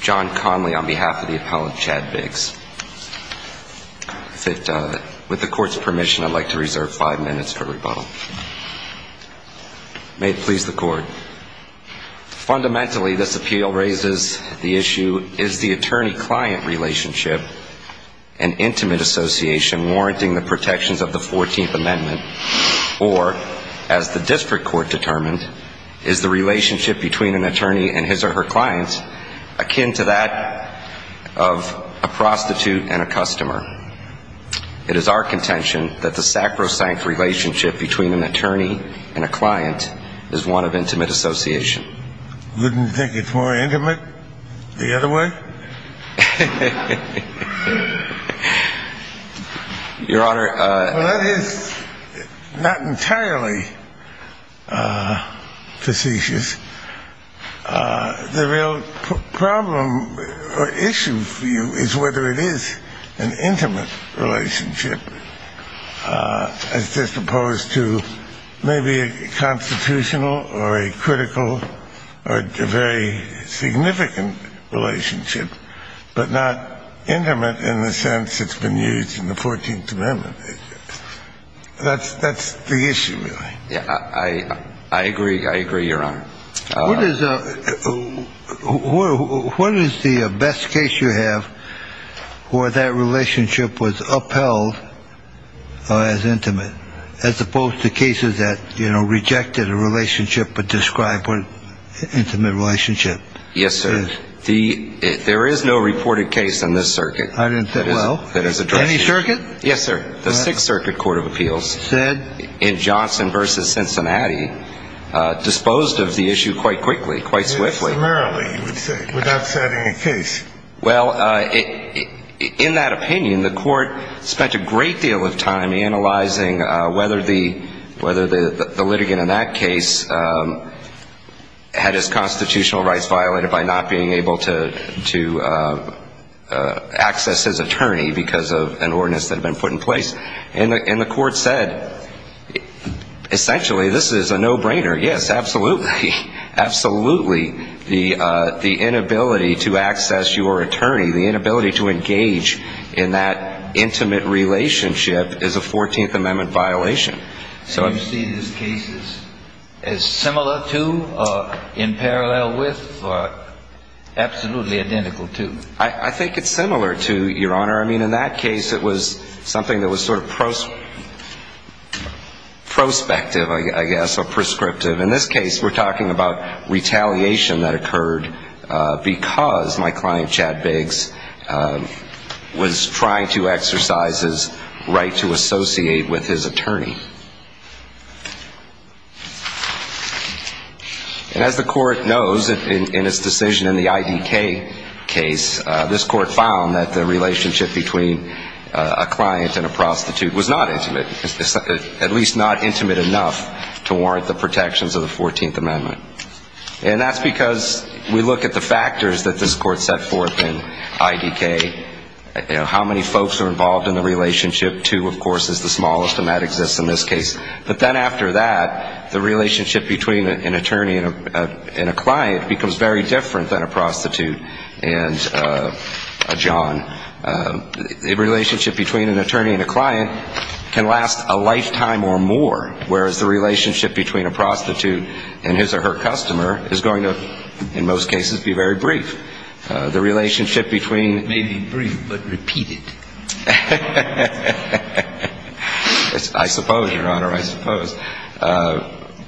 John Conley on behalf of the appellant, Chad Biggs. With the court's permission, I'd like to reserve five minutes for rebuttal. May it please the court. Fundamentally, this appeal raises the issue, is the attorney-client relationship an intimate association warranting the protections of the 14th Amendment, or, as the district court determined, is the relationship between an attorney and his or her client akin to that of a prostitute and a customer. It is our contention that the sacrosanct relationship between an attorney and a client is one of intimate association. Wouldn't you think it's more intimate the other way? Your Honor. Well, that is not entirely facetious. The real problem or issue for you is whether it is an intimate relationship, as opposed to maybe a constitutional or a critical or very significant relationship, but not intimate in the sense it's been used in the 14th Amendment. That's the issue, really. I agree. I agree, Your Honor. What is the best case you have where that relationship was upheld as intimate, as opposed to cases that rejected a relationship but described an intimate relationship? Yes, sir. There is no reported case in this circuit. I didn't say well. Any circuit? Yes, sir. The Sixth Circuit Court of Appeals in Johnson v. Cincinnati disposed of the issue quite quickly, quite swiftly. Similarly, you would say, without setting a case. Well, in that opinion, the court spent a great deal of time analyzing whether the litigant in that case had his constitutional rights violated by not being able to access his attorney because of an ordinance that had been put in place. And the court said, essentially, this is a no-brainer. Yes, absolutely. Absolutely. The inability to access your attorney, the inability to engage in that intimate relationship, is a 14th Amendment violation. So you see these cases as similar to or in parallel with or absolutely identical to? I think it's similar to, Your Honor. I mean, in that case, it was something that was sort of prospective, I guess, or prescriptive. In this case, we're talking about retaliation that occurred because my client, Chad Biggs, was trying to exercise his right to associate with his attorney. And as the court knows, in its decision in the IDK case, this court found that the relationship between a client and a prostitute was not intimate, at least not intimate enough to warrant the protections of the 14th Amendment. And that's because we look at the factors that this court set forth in IDK. How many folks are involved in the relationship? Two, of course, is the smallest, and that exists in the 14th Amendment. In this case, but then after that, the relationship between an attorney and a client becomes very different than a prostitute and a john. The relationship between an attorney and a client can last a lifetime or more, whereas the relationship between a prostitute and his or her customer is going to, in most cases, be very brief. The relationship between... May be brief, but repeated. I suppose, Your Honor, I suppose.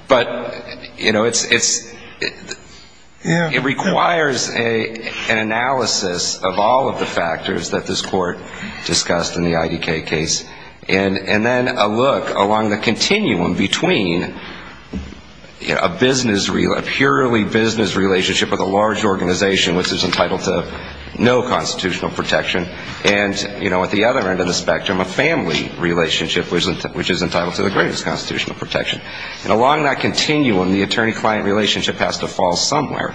But, you know, it requires an analysis of all of the factors that this court discussed in the IDK case, and then a look along the continuum between a purely business relationship with a large organization, which is entitled to no constitutional protection, and, you know, at the other end of the spectrum, a family relationship, which is entitled to the greatest constitutional protection. And along that continuum, the attorney-client relationship has to fall somewhere.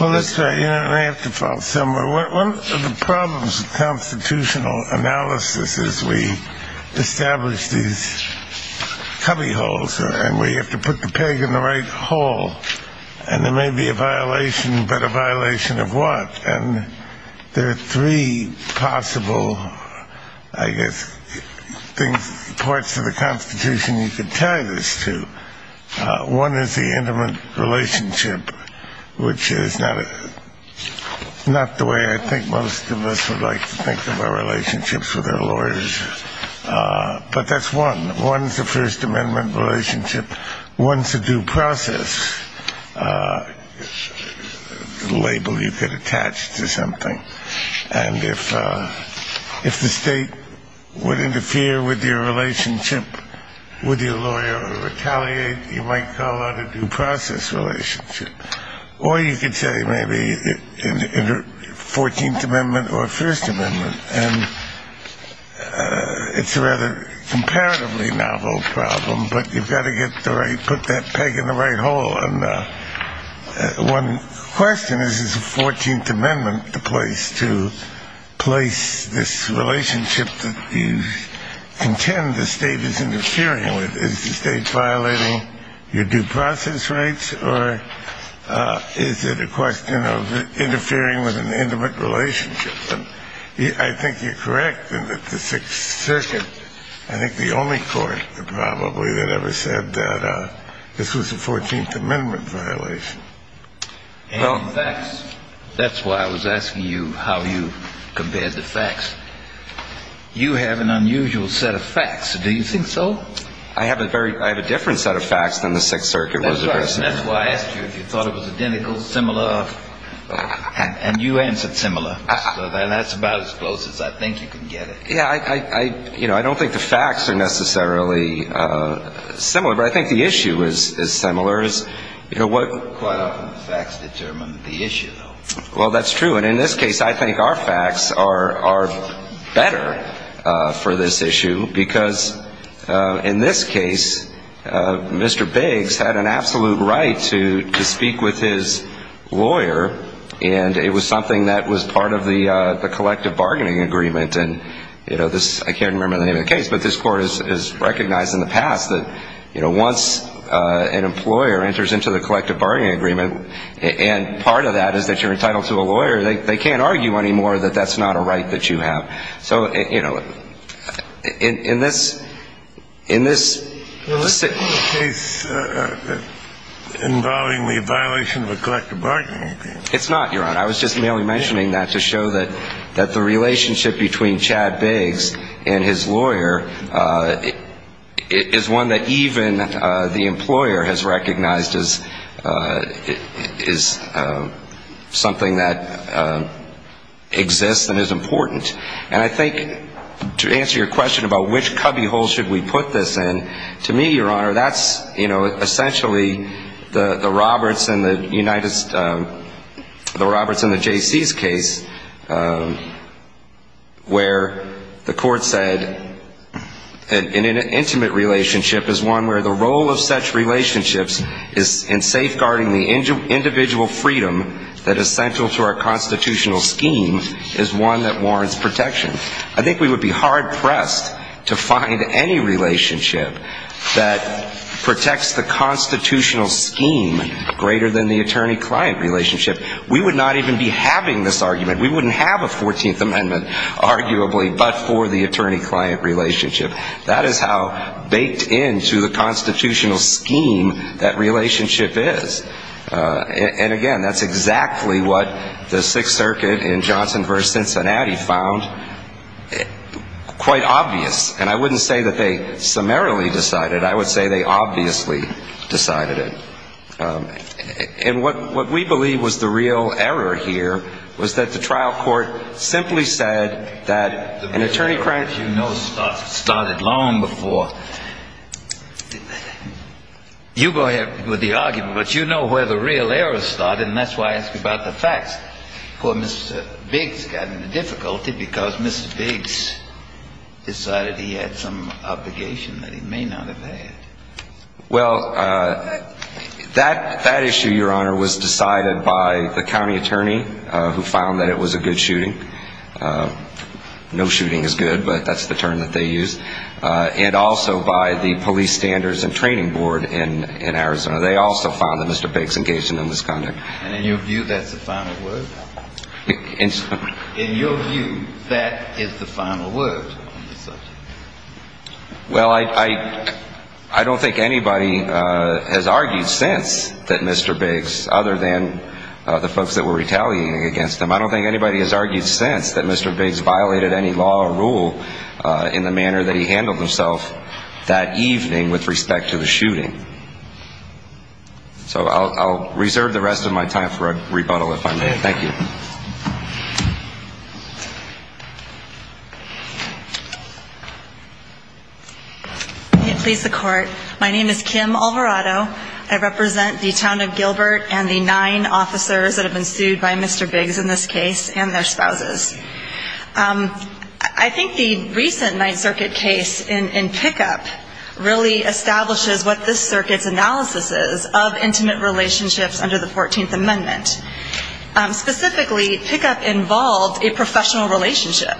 Well, that's right. It may have to fall somewhere. One of the problems with constitutional analysis is we establish these cubbyholes, and we have to put the peg in the right hole, and there may be a violation, but a violation of what? And there are three possible, I guess, parts of the Constitution you could tie this to. One is the intimate relationship, which is not the way I think most of us would like to think of our relationships with our lawyers. But that's one. One is the First Amendment relationship. One is a due process label you could attach to something. And if the state would interfere with your relationship with your lawyer or retaliate, you might call that a due process relationship. Or you could say maybe 14th Amendment or First Amendment, and it's a rather comparatively novel problem, but you've got to put that peg in the right hole. And one question is, is the 14th Amendment the place to place this relationship that you contend the state is interfering with? Is the state violating your due process rights, or is it a question of interfering with an intimate relationship? I think you're correct in that the Sixth Circuit, I think the only court, probably, that ever said that this was a 14th Amendment violation. And facts. That's why I was asking you how you compared the facts. You have an unusual set of facts. Do you think so? I have a different set of facts than the Sixth Circuit was addressing. That's why I asked you if you thought it was identical, similar, and you answered similar. So that's about as close as I think you can get it. Yeah, I don't think the facts are necessarily similar, but I think the issue is similar. Quite often the facts determine the issue. Well, that's true. And in this case, I think our facts are better for this issue because, in this case, Mr. Biggs had an absolute right to speak with his lawyer, and it was something that was part of the collective bargaining agreement. And, you know, I can't remember the name of the case, but this court has recognized in the past that, you know, once an employer enters into the collective bargaining agreement and part of that is that you're entitled to a lawyer, they can't argue anymore that that's not a right that you have. So, you know, in this case involving the violation of a collective bargaining agreement. It's not, Your Honor. I was just merely mentioning that to show that the relationship between Chad Biggs and his lawyer is one that even the employer has recognized as something that exists and is important. And I think to answer your question about which cubbyhole should we put this in, to me, Your Honor, that's, you know, it's in the J.C.'s case where the court said an intimate relationship is one where the role of such relationships is in safeguarding the individual freedom that is central to our constitutional scheme is one that warrants protection. I think we would be hard-pressed to find any relationship that protects the constitutional scheme greater than the attorney-client relationship. We would not even be having this argument. We wouldn't have a 14th Amendment, arguably, but for the attorney-client relationship. That is how baked into the constitutional scheme that relationship is. And, again, that's exactly what the Sixth Circuit in Johnson v. Cincinnati found quite obvious. And I wouldn't say that they summarily decided it. I would say they obviously decided it. And what we believe was the real error here was that the trial court simply said that an attorney-client relationship started long before. You go ahead with the argument, but you know where the real error started, and that's why I ask you about the facts. Of course, Mr. Biggs got into difficulty because Mr. Biggs decided he had some obligation that he may not have had. Well, that issue, Your Honor, was decided by the county attorney who found that it was a good shooting. No shooting is good, but that's the term that they used. And also by the police standards and training board in Arizona. They also found that Mr. Biggs engaged in a misconduct. And in your view, that's the final word? In your view, that is the final word on the subject? Well, I don't think anybody has argued since that Mr. Biggs, other than the folks that were retaliating against him. I don't think anybody has argued since that Mr. Biggs violated any law or rule in the manner that he handled himself that evening with respect to the shooting. So I'll reserve the rest of my time for a rebuttal if I may. Thank you. May it please the Court. My name is Kim Alvarado. I represent the town of Gilbert and the nine officers that have been sued by Mr. Biggs in this case and their spouses. I think the recent Ninth Circuit case in Pickup really establishes what this circuit's analysis is of intimate relationships under the 14th Amendment. Specifically, Pickup involved a professional relationship.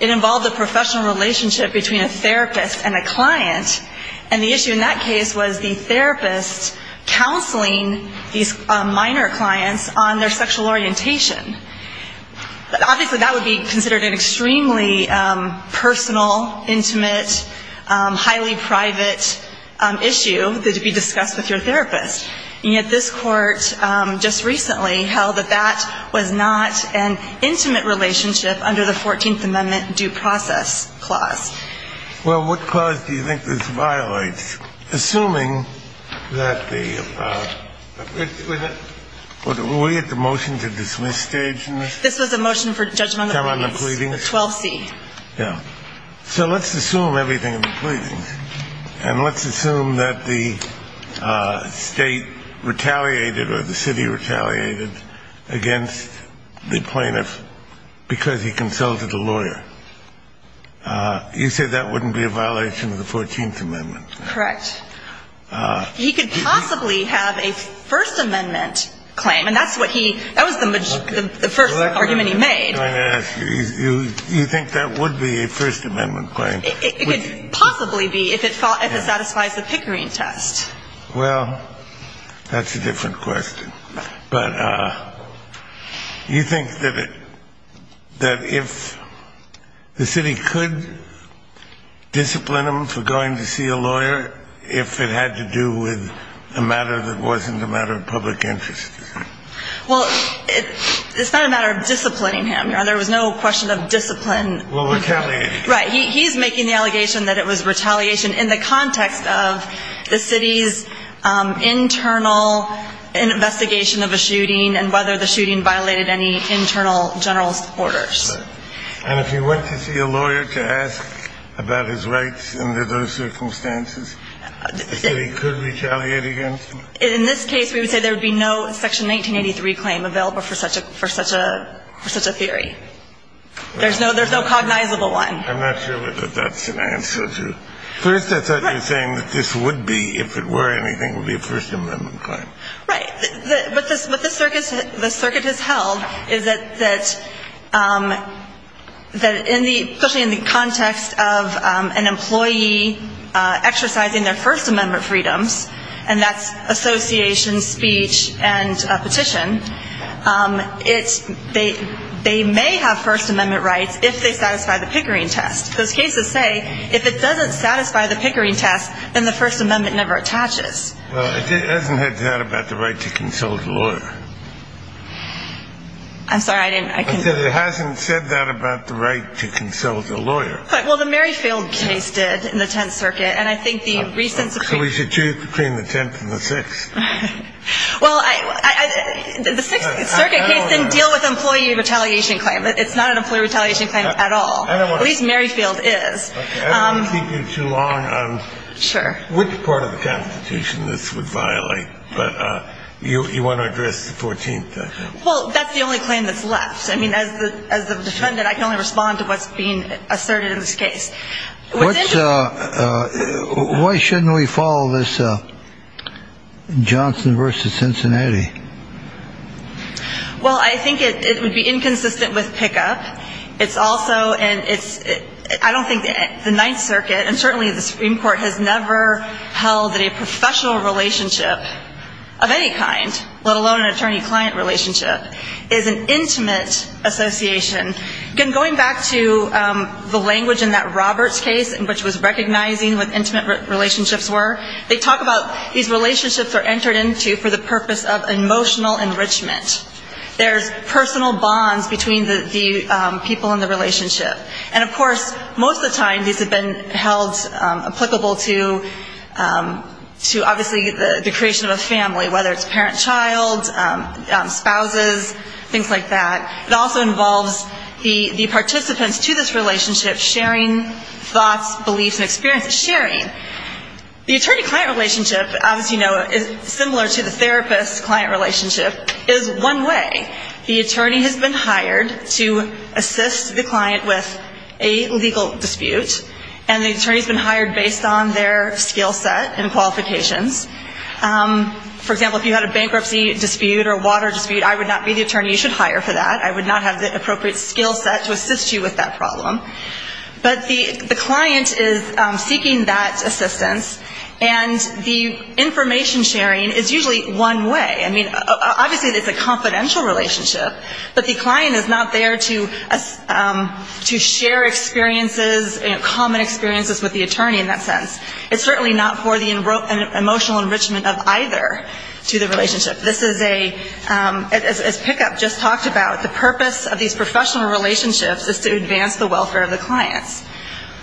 It involved a professional relationship between a therapist and a client. And the issue in that case was the therapist counseling these minor clients on their sexual orientation. But obviously, that would be considered an extremely personal, intimate, highly private issue that would be discussed with your therapist. And yet this Court just recently held that that was not an intimate relationship under the 14th Amendment due process clause. Well, what clause do you think this violates? Assuming that the – were we at the motion-to-dismiss stage in this? This was a motion for judgment on the pleadings, 12C. Yeah. So let's assume everything in the pleadings. And let's assume that the State retaliated or the City retaliated against the plaintiff because he consulted a lawyer. You say that wouldn't be a violation of the 14th Amendment? Correct. He could possibly have a First Amendment claim. And that's what he – that was the first argument he made. May I ask you, you think that would be a First Amendment claim? It could possibly be if it satisfies the Pickering test. Well, that's a different question. But you think that if the City could discipline him for going to see a lawyer if it had to do with a matter that wasn't a matter of public interest? Well, it's not a matter of disciplining him. There was no question of discipline. Well, retaliating. Right. He's making the allegation that it was retaliation in the context of the City's internal investigation of a shooting and whether the shooting violated any internal general orders. And if he went to see a lawyer to ask about his rights under those circumstances, the City could retaliate against him? In this case, we would say there would be no Section 1983 claim available for such a – for such a – for such a theory. There's no – there's no cognizable one. I'm not sure that that's an answer to – first, I thought you were saying that this would be, if it were anything, would be a First Amendment claim. Right. What this – what this circuit – the circuit has held is that – that in the – especially in the context of an employee exercising their First Amendment freedoms, and that's association, speech, and petition, it's – they may have First Amendment rights if they satisfy the Pickering test. Those cases say if it doesn't satisfy the Pickering test, then the First Amendment never attaches. Well, it hasn't said that about the right to consult a lawyer. I'm sorry, I didn't – I can't – It hasn't said that about the right to consult a lawyer. Well, the Merrifield case did in the Tenth Circuit, and I think the recent Supreme – So we should choose between the Tenth and the Sixth. Well, I – the Sixth Circuit case didn't deal with employee retaliation claim. It's not an employee retaliation claim at all. At least Merrifield is. I don't want to keep you too long on which part of the Constitution this would violate, but you want to address the Fourteenth? Well, that's the only claim that's left. I mean, as the – as the defendant, I can only respond to what's being asserted in this case. What's – Why shouldn't we follow this Johnson versus Cincinnati? Well, I think it would be inconsistent with pickup. It's also – and it's – I don't think the Ninth Circuit, and certainly the Supreme Court, has never held that a professional relationship of any kind, let alone an attorney-client relationship, is an intimate association. Again, going back to the language in that Roberts case, which was recognizing what intimate relationships were, they talk about these relationships are entered into for the purpose of emotional enrichment. There's personal bonds between the people in the relationship. And, of course, most of the time these have been held applicable to obviously the creation of a family, whether it's parent-child, spouses, things like that. It also involves the participants to this relationship sharing thoughts, beliefs, and experiences. Sharing. The attorney-client relationship, as you know, is similar to the therapist-client relationship, is one way. The attorney has been hired to assist the client with a legal dispute, and the attorney's been hired based on their skill set and qualifications. For example, if you had a bankruptcy dispute or a water dispute, I would not be the attorney you should hire for that. I would not have the appropriate skill set to assist you with that problem. But the client is seeking that assistance, and the information sharing is usually one way. I mean, obviously it's a confidential relationship, but the client is not there to share experiences, you know, common experiences with the attorney in that sense. It's certainly not for the emotional enrichment of either to the relationship. This is a, as Pickup just talked about, the purpose of these professional relationships is to advance the welfare of the clients.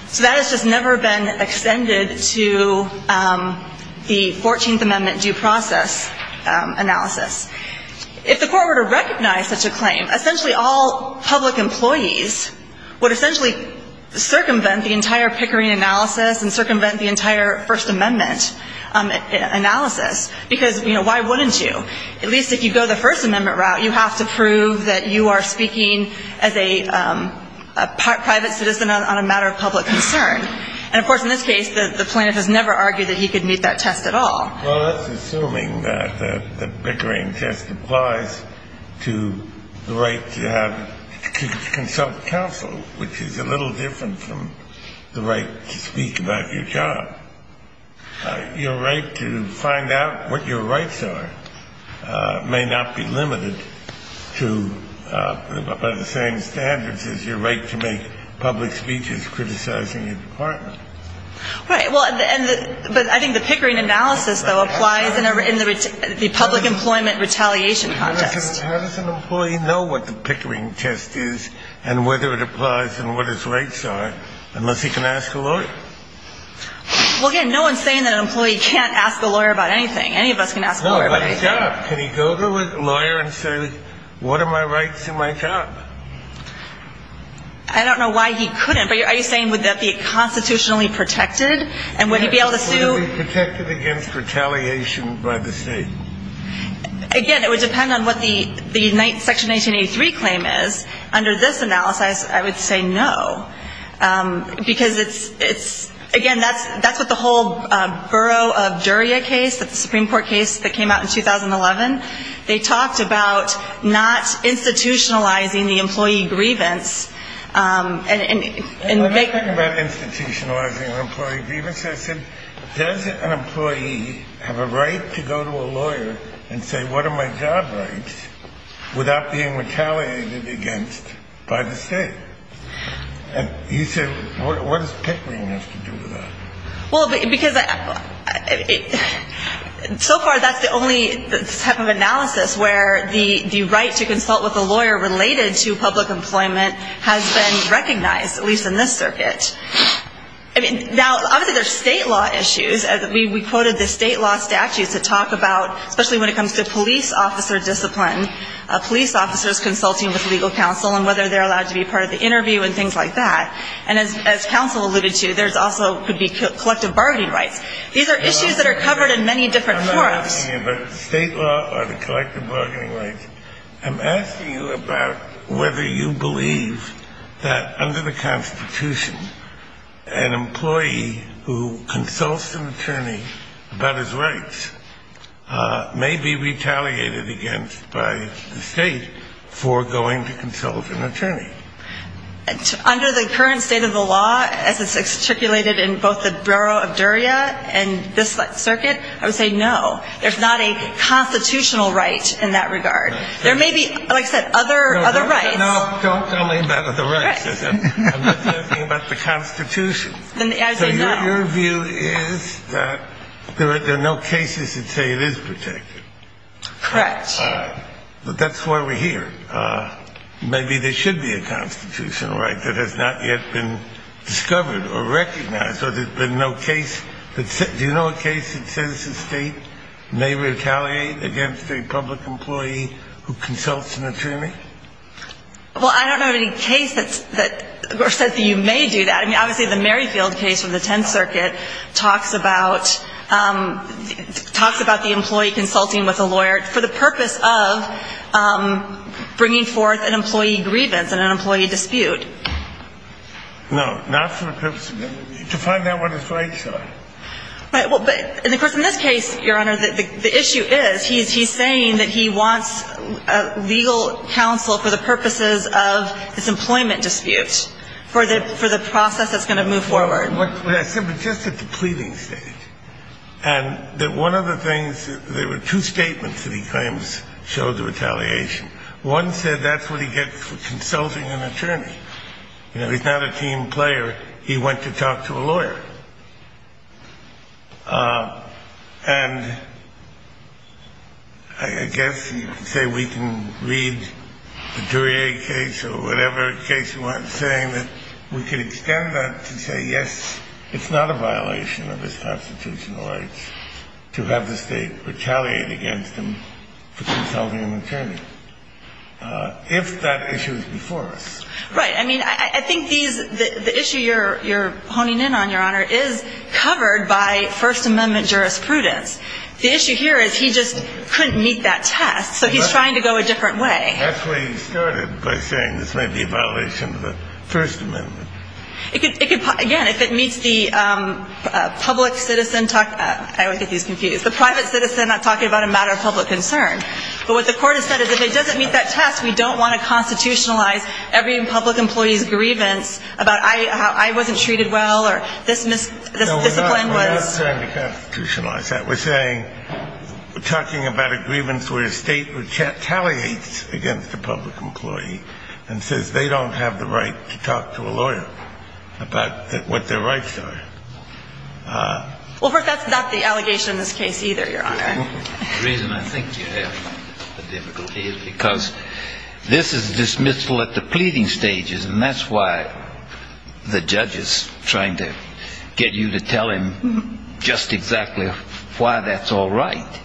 So that has just never been extended to the 14th Amendment due process analysis. If the court were to recognize such a claim, essentially all public employees would essentially circumvent the entire Pickering analysis and circumvent the entire First Amendment analysis, because, you know, why wouldn't you? At least if you go the First Amendment route, you have to prove that you are speaking as a private citizen on a matter of public concern. And, of course, in this case, the plaintiff has never argued that he could meet that test at all. Well, that's assuming that the Pickering test applies to the right to consult counsel, which is a little different from the right to speak about your job. Your right to find out what your rights are may not be limited to by the same standards as your right to make public speeches criticizing your department. Right. Well, but I think the Pickering analysis, though, applies in the public employment retaliation context. How does an employee know what the Pickering test is and whether it applies and what its rights are unless he can ask a lawyer? Well, again, no one's saying that an employee can't ask a lawyer about anything. Any of us can ask a lawyer about anything. No, but his job. Can he go to a lawyer and say, look, what are my rights in my job? I don't know why he couldn't, but are you saying would that be constitutionally protected and would he be able to sue? Yes. Would it be protected against retaliation by the state? Again, it would depend on what the section 1983 claim is. Under this analysis, I would say no. Because it's, again, that's what the whole Borough of Duria case, the Supreme Court case that came out in 2011, they talked about not institutionalizing the employee grievance. And when I talk about institutionalizing the employee grievance, I said, does an employee have a right to go to a lawyer and say, what are my job rights without being retaliated against by the state? And he said, what does Pickering have to do with that? Well, because so far that's the only type of analysis where the right to consult with a lawyer related to public employment has been recognized, at least in this circuit. I mean, now, obviously, there's state law issues. We quoted the state law statutes that talk about, especially when it comes to police officer discipline, police officers consulting with legal counsel and whether they're allowed to be part of the interview and things like that. And as counsel alluded to, there also could be collective bargaining rights. These are issues that are covered in many different courts. I'm asking you about state law or the collective bargaining rights. I'm asking you about whether you believe that under the Constitution, an employee who consults an attorney about his rights may be retaliated against by the state for going to consult an attorney. Under the current state of the law, as it's articulated in both the Borough of Duria and this circuit, I would say no. There's not a constitutional right in that regard. There may be, like I said, other rights. No, don't tell me about other rights. I'm just asking about the Constitution. So your view is that there are no cases that say it is protected. Correct. That's why we're here. Maybe there should be a constitutional right that has not yet been discovered or recognized. Do you know a case that says the state may retaliate against a public employee who consults an attorney? Well, I don't know of any case that says that you may do that. I mean, obviously the Merrifield case from the Tenth Circuit talks about the employee consulting with a lawyer for the purpose of bringing forth an employee grievance and an employee dispute. No, not for the purpose of the employee. To find out what his rights are. And, of course, in this case, Your Honor, the issue is he's saying that he wants legal counsel for the purposes of his employment dispute, for the process that's going to move forward. What I said, but just at the pleading stage, and that one of the things, there were two statements that he claims showed the retaliation. One said that's what he gets for consulting an attorney. You know, he's not a team player. He went to talk to a lawyer. And I guess you could say we can read the Duryea case or whatever case you want saying that we could extend that to say, yes, it's not a violation of his constitutional rights to have the state retaliate against him for consulting an attorney. If that issue is before us. Right. I mean, I think the issue you're honing in on, Your Honor, is covered by First Amendment jurisprudence. The issue here is he just couldn't meet that test, so he's trying to go a different way. That's where he started by saying this may be a violation of the First Amendment. It could, again, if it meets the public citizen, I always get these confused, the private citizen not talking about a matter of public concern. But what the court has said is if it doesn't meet that test, we don't want to constitutionalize every public employee's grievance about I wasn't treated well or this discipline was. No, we're not trying to constitutionalize that. We're saying we're talking about a grievance where a state retaliates against a public employee and says they don't have the right to talk to a lawyer about what their rights are. Well, that's not the allegation in this case either, Your Honor. The reason I think you have the difficulty is because this is dismissal at the pleading stages, and that's why the judge is trying to get you to tell him just exactly what the grievance is. And why that's all right.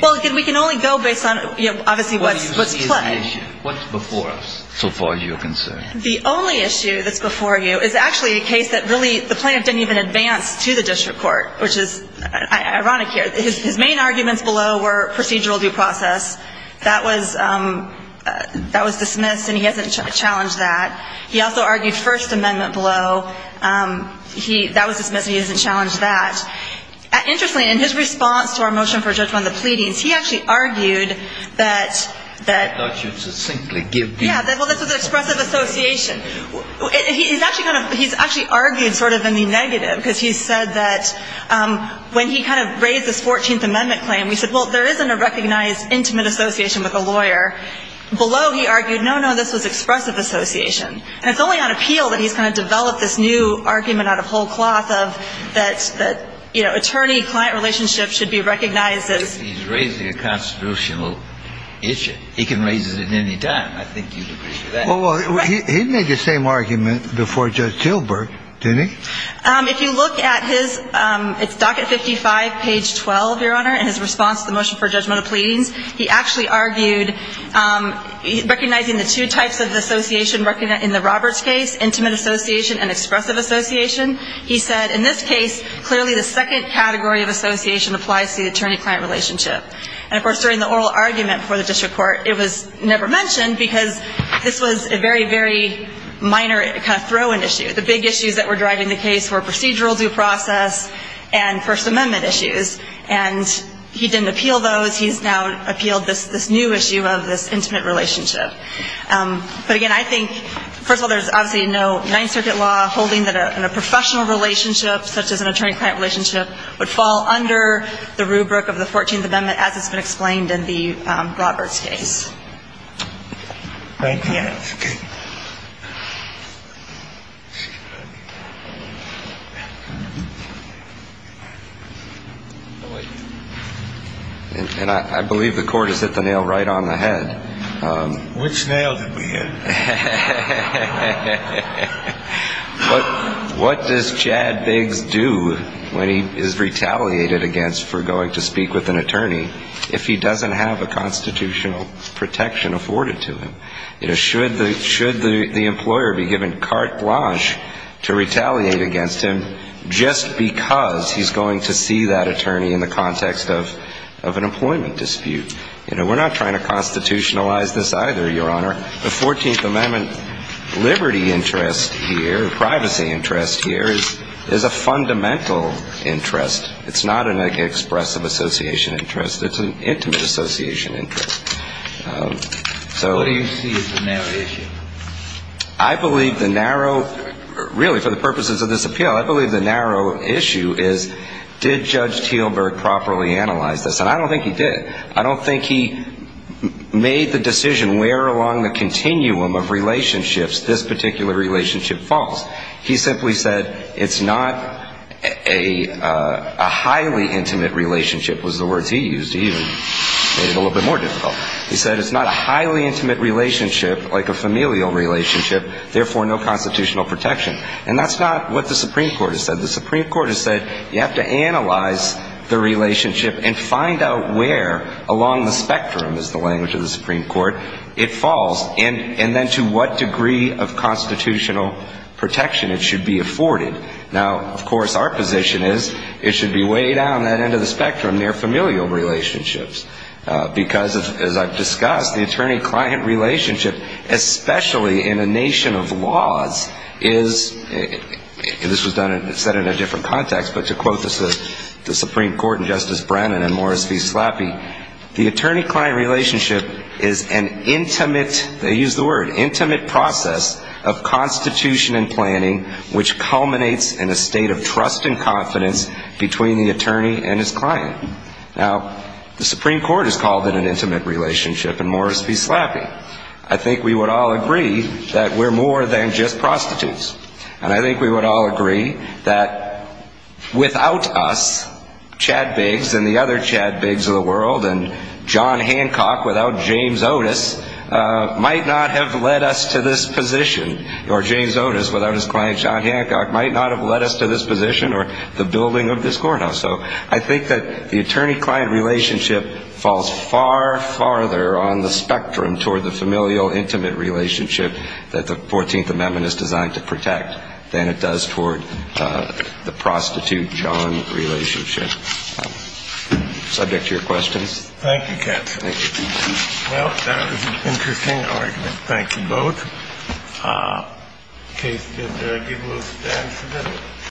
Well, we can only go based on obviously what's played. What's before us so far as you're concerned? The only issue that's before you is actually a case that really the plaintiff didn't even advance to the district court, which is ironic here. His main arguments below were procedural due process. That was dismissed, and he hasn't challenged that. He also argued First Amendment below. That was dismissed, and he hasn't challenged that. Interestingly, in his response to our motion for judgment on the pleadings, he actually argued that... I thought you'd succinctly give me... Yeah, well, this was an expressive association. He's actually argued sort of in the negative, because he said that when he kind of raised this 14th Amendment claim, we said, well, there isn't a recognized intimate association with a lawyer. Below, he argued, no, no, this was expressive association. And it's only on appeal that he's going to develop this new argument out of whole cloth of that attorney-client relationship should be recognized as... He's raising a constitutional issue. He can raise it at any time. I think you'd agree with that. Well, he made the same argument before Judge Tilburg, didn't he? If you look at his... It's docket 55, page 12, Your Honor, in his response to the motion for judgment of pleadings. He actually argued recognizing the two types of association in the Roberts case, intimate association and expressive association. He said, in this case, clearly the second category of association applies to the attorney-client relationship. And, of course, during the oral argument before the district court, it was never mentioned, because this was a very, very minor kind of throw-in issue. The big issues that were driving the case were procedural due process and First Amendment issues. And he didn't appeal those. He's now appealed this new issue of this intimate relationship. But, again, I think, first of all, there's obviously no Ninth Circuit law holding that a professional relationship, such as an attorney-client relationship, would fall under the rubric of the Fourteenth Amendment as it's been explained in the Roberts case. Thank you. And I believe the court has hit the nail right on the head. Which nail did we hit? What does Chad Biggs do when he is retaliated against for going to speak with an attorney if he doesn't have a constitutional protection afforded to him? Should the employer be given carte blanche to retaliate against him just because he's going to see that attorney in the context of an employment dispute? You know, we're not trying to constitutionalize this either, Your Honor. The Fourteenth Amendment liberty interest here, privacy interest here, is a fundamental interest. It's not an expressive association interest. It's an intimate association interest. What do you see as the narrow issue? I believe the narrow, really, for the purposes of this appeal, I believe the narrow issue is did Judge Teelberg properly analyze this? And I don't think he did. I don't think he made the decision where along the continuum of relationships this particular relationship falls. He simply said it's not a highly intimate relationship, was the words he used. He even made it a little bit more difficult. He said it's not a highly intimate relationship like a familial relationship, therefore no constitutional protection. And that's not what the Supreme Court has said. The Supreme Court has said you have to analyze the relationship and find out where along the spectrum, is the language of the Supreme Court, it falls. Now, of course, our position is it should be way down that end of the spectrum near familial relationships. Because, as I've discussed, the attorney-client relationship, especially in a nation of laws, is, this was said in a different context, but to quote the Supreme Court and Justice Brennan and Morris v. Slappy, the attorney-client relationship is an intimate, they used the word, an intimate process of constitution and planning which culminates in a state of trust and confidence between the attorney and his client. Now, the Supreme Court has called it an intimate relationship and Morris v. Slappy. I think we would all agree that we're more than just prostitutes. And I think we would all agree that without us, Chad Biggs and the other Chad Biggs of the world and John Hancock without James Otis, might not have led us to this position, or James Otis without his client John Hancock might not have led us to this position or the building of this courthouse. So I think that the attorney-client relationship falls far, far further on the spectrum toward the familial intimate relationship that the 14th Amendment is designed to protect than it does toward the prostitute-John relationship. I'm subject to your questions.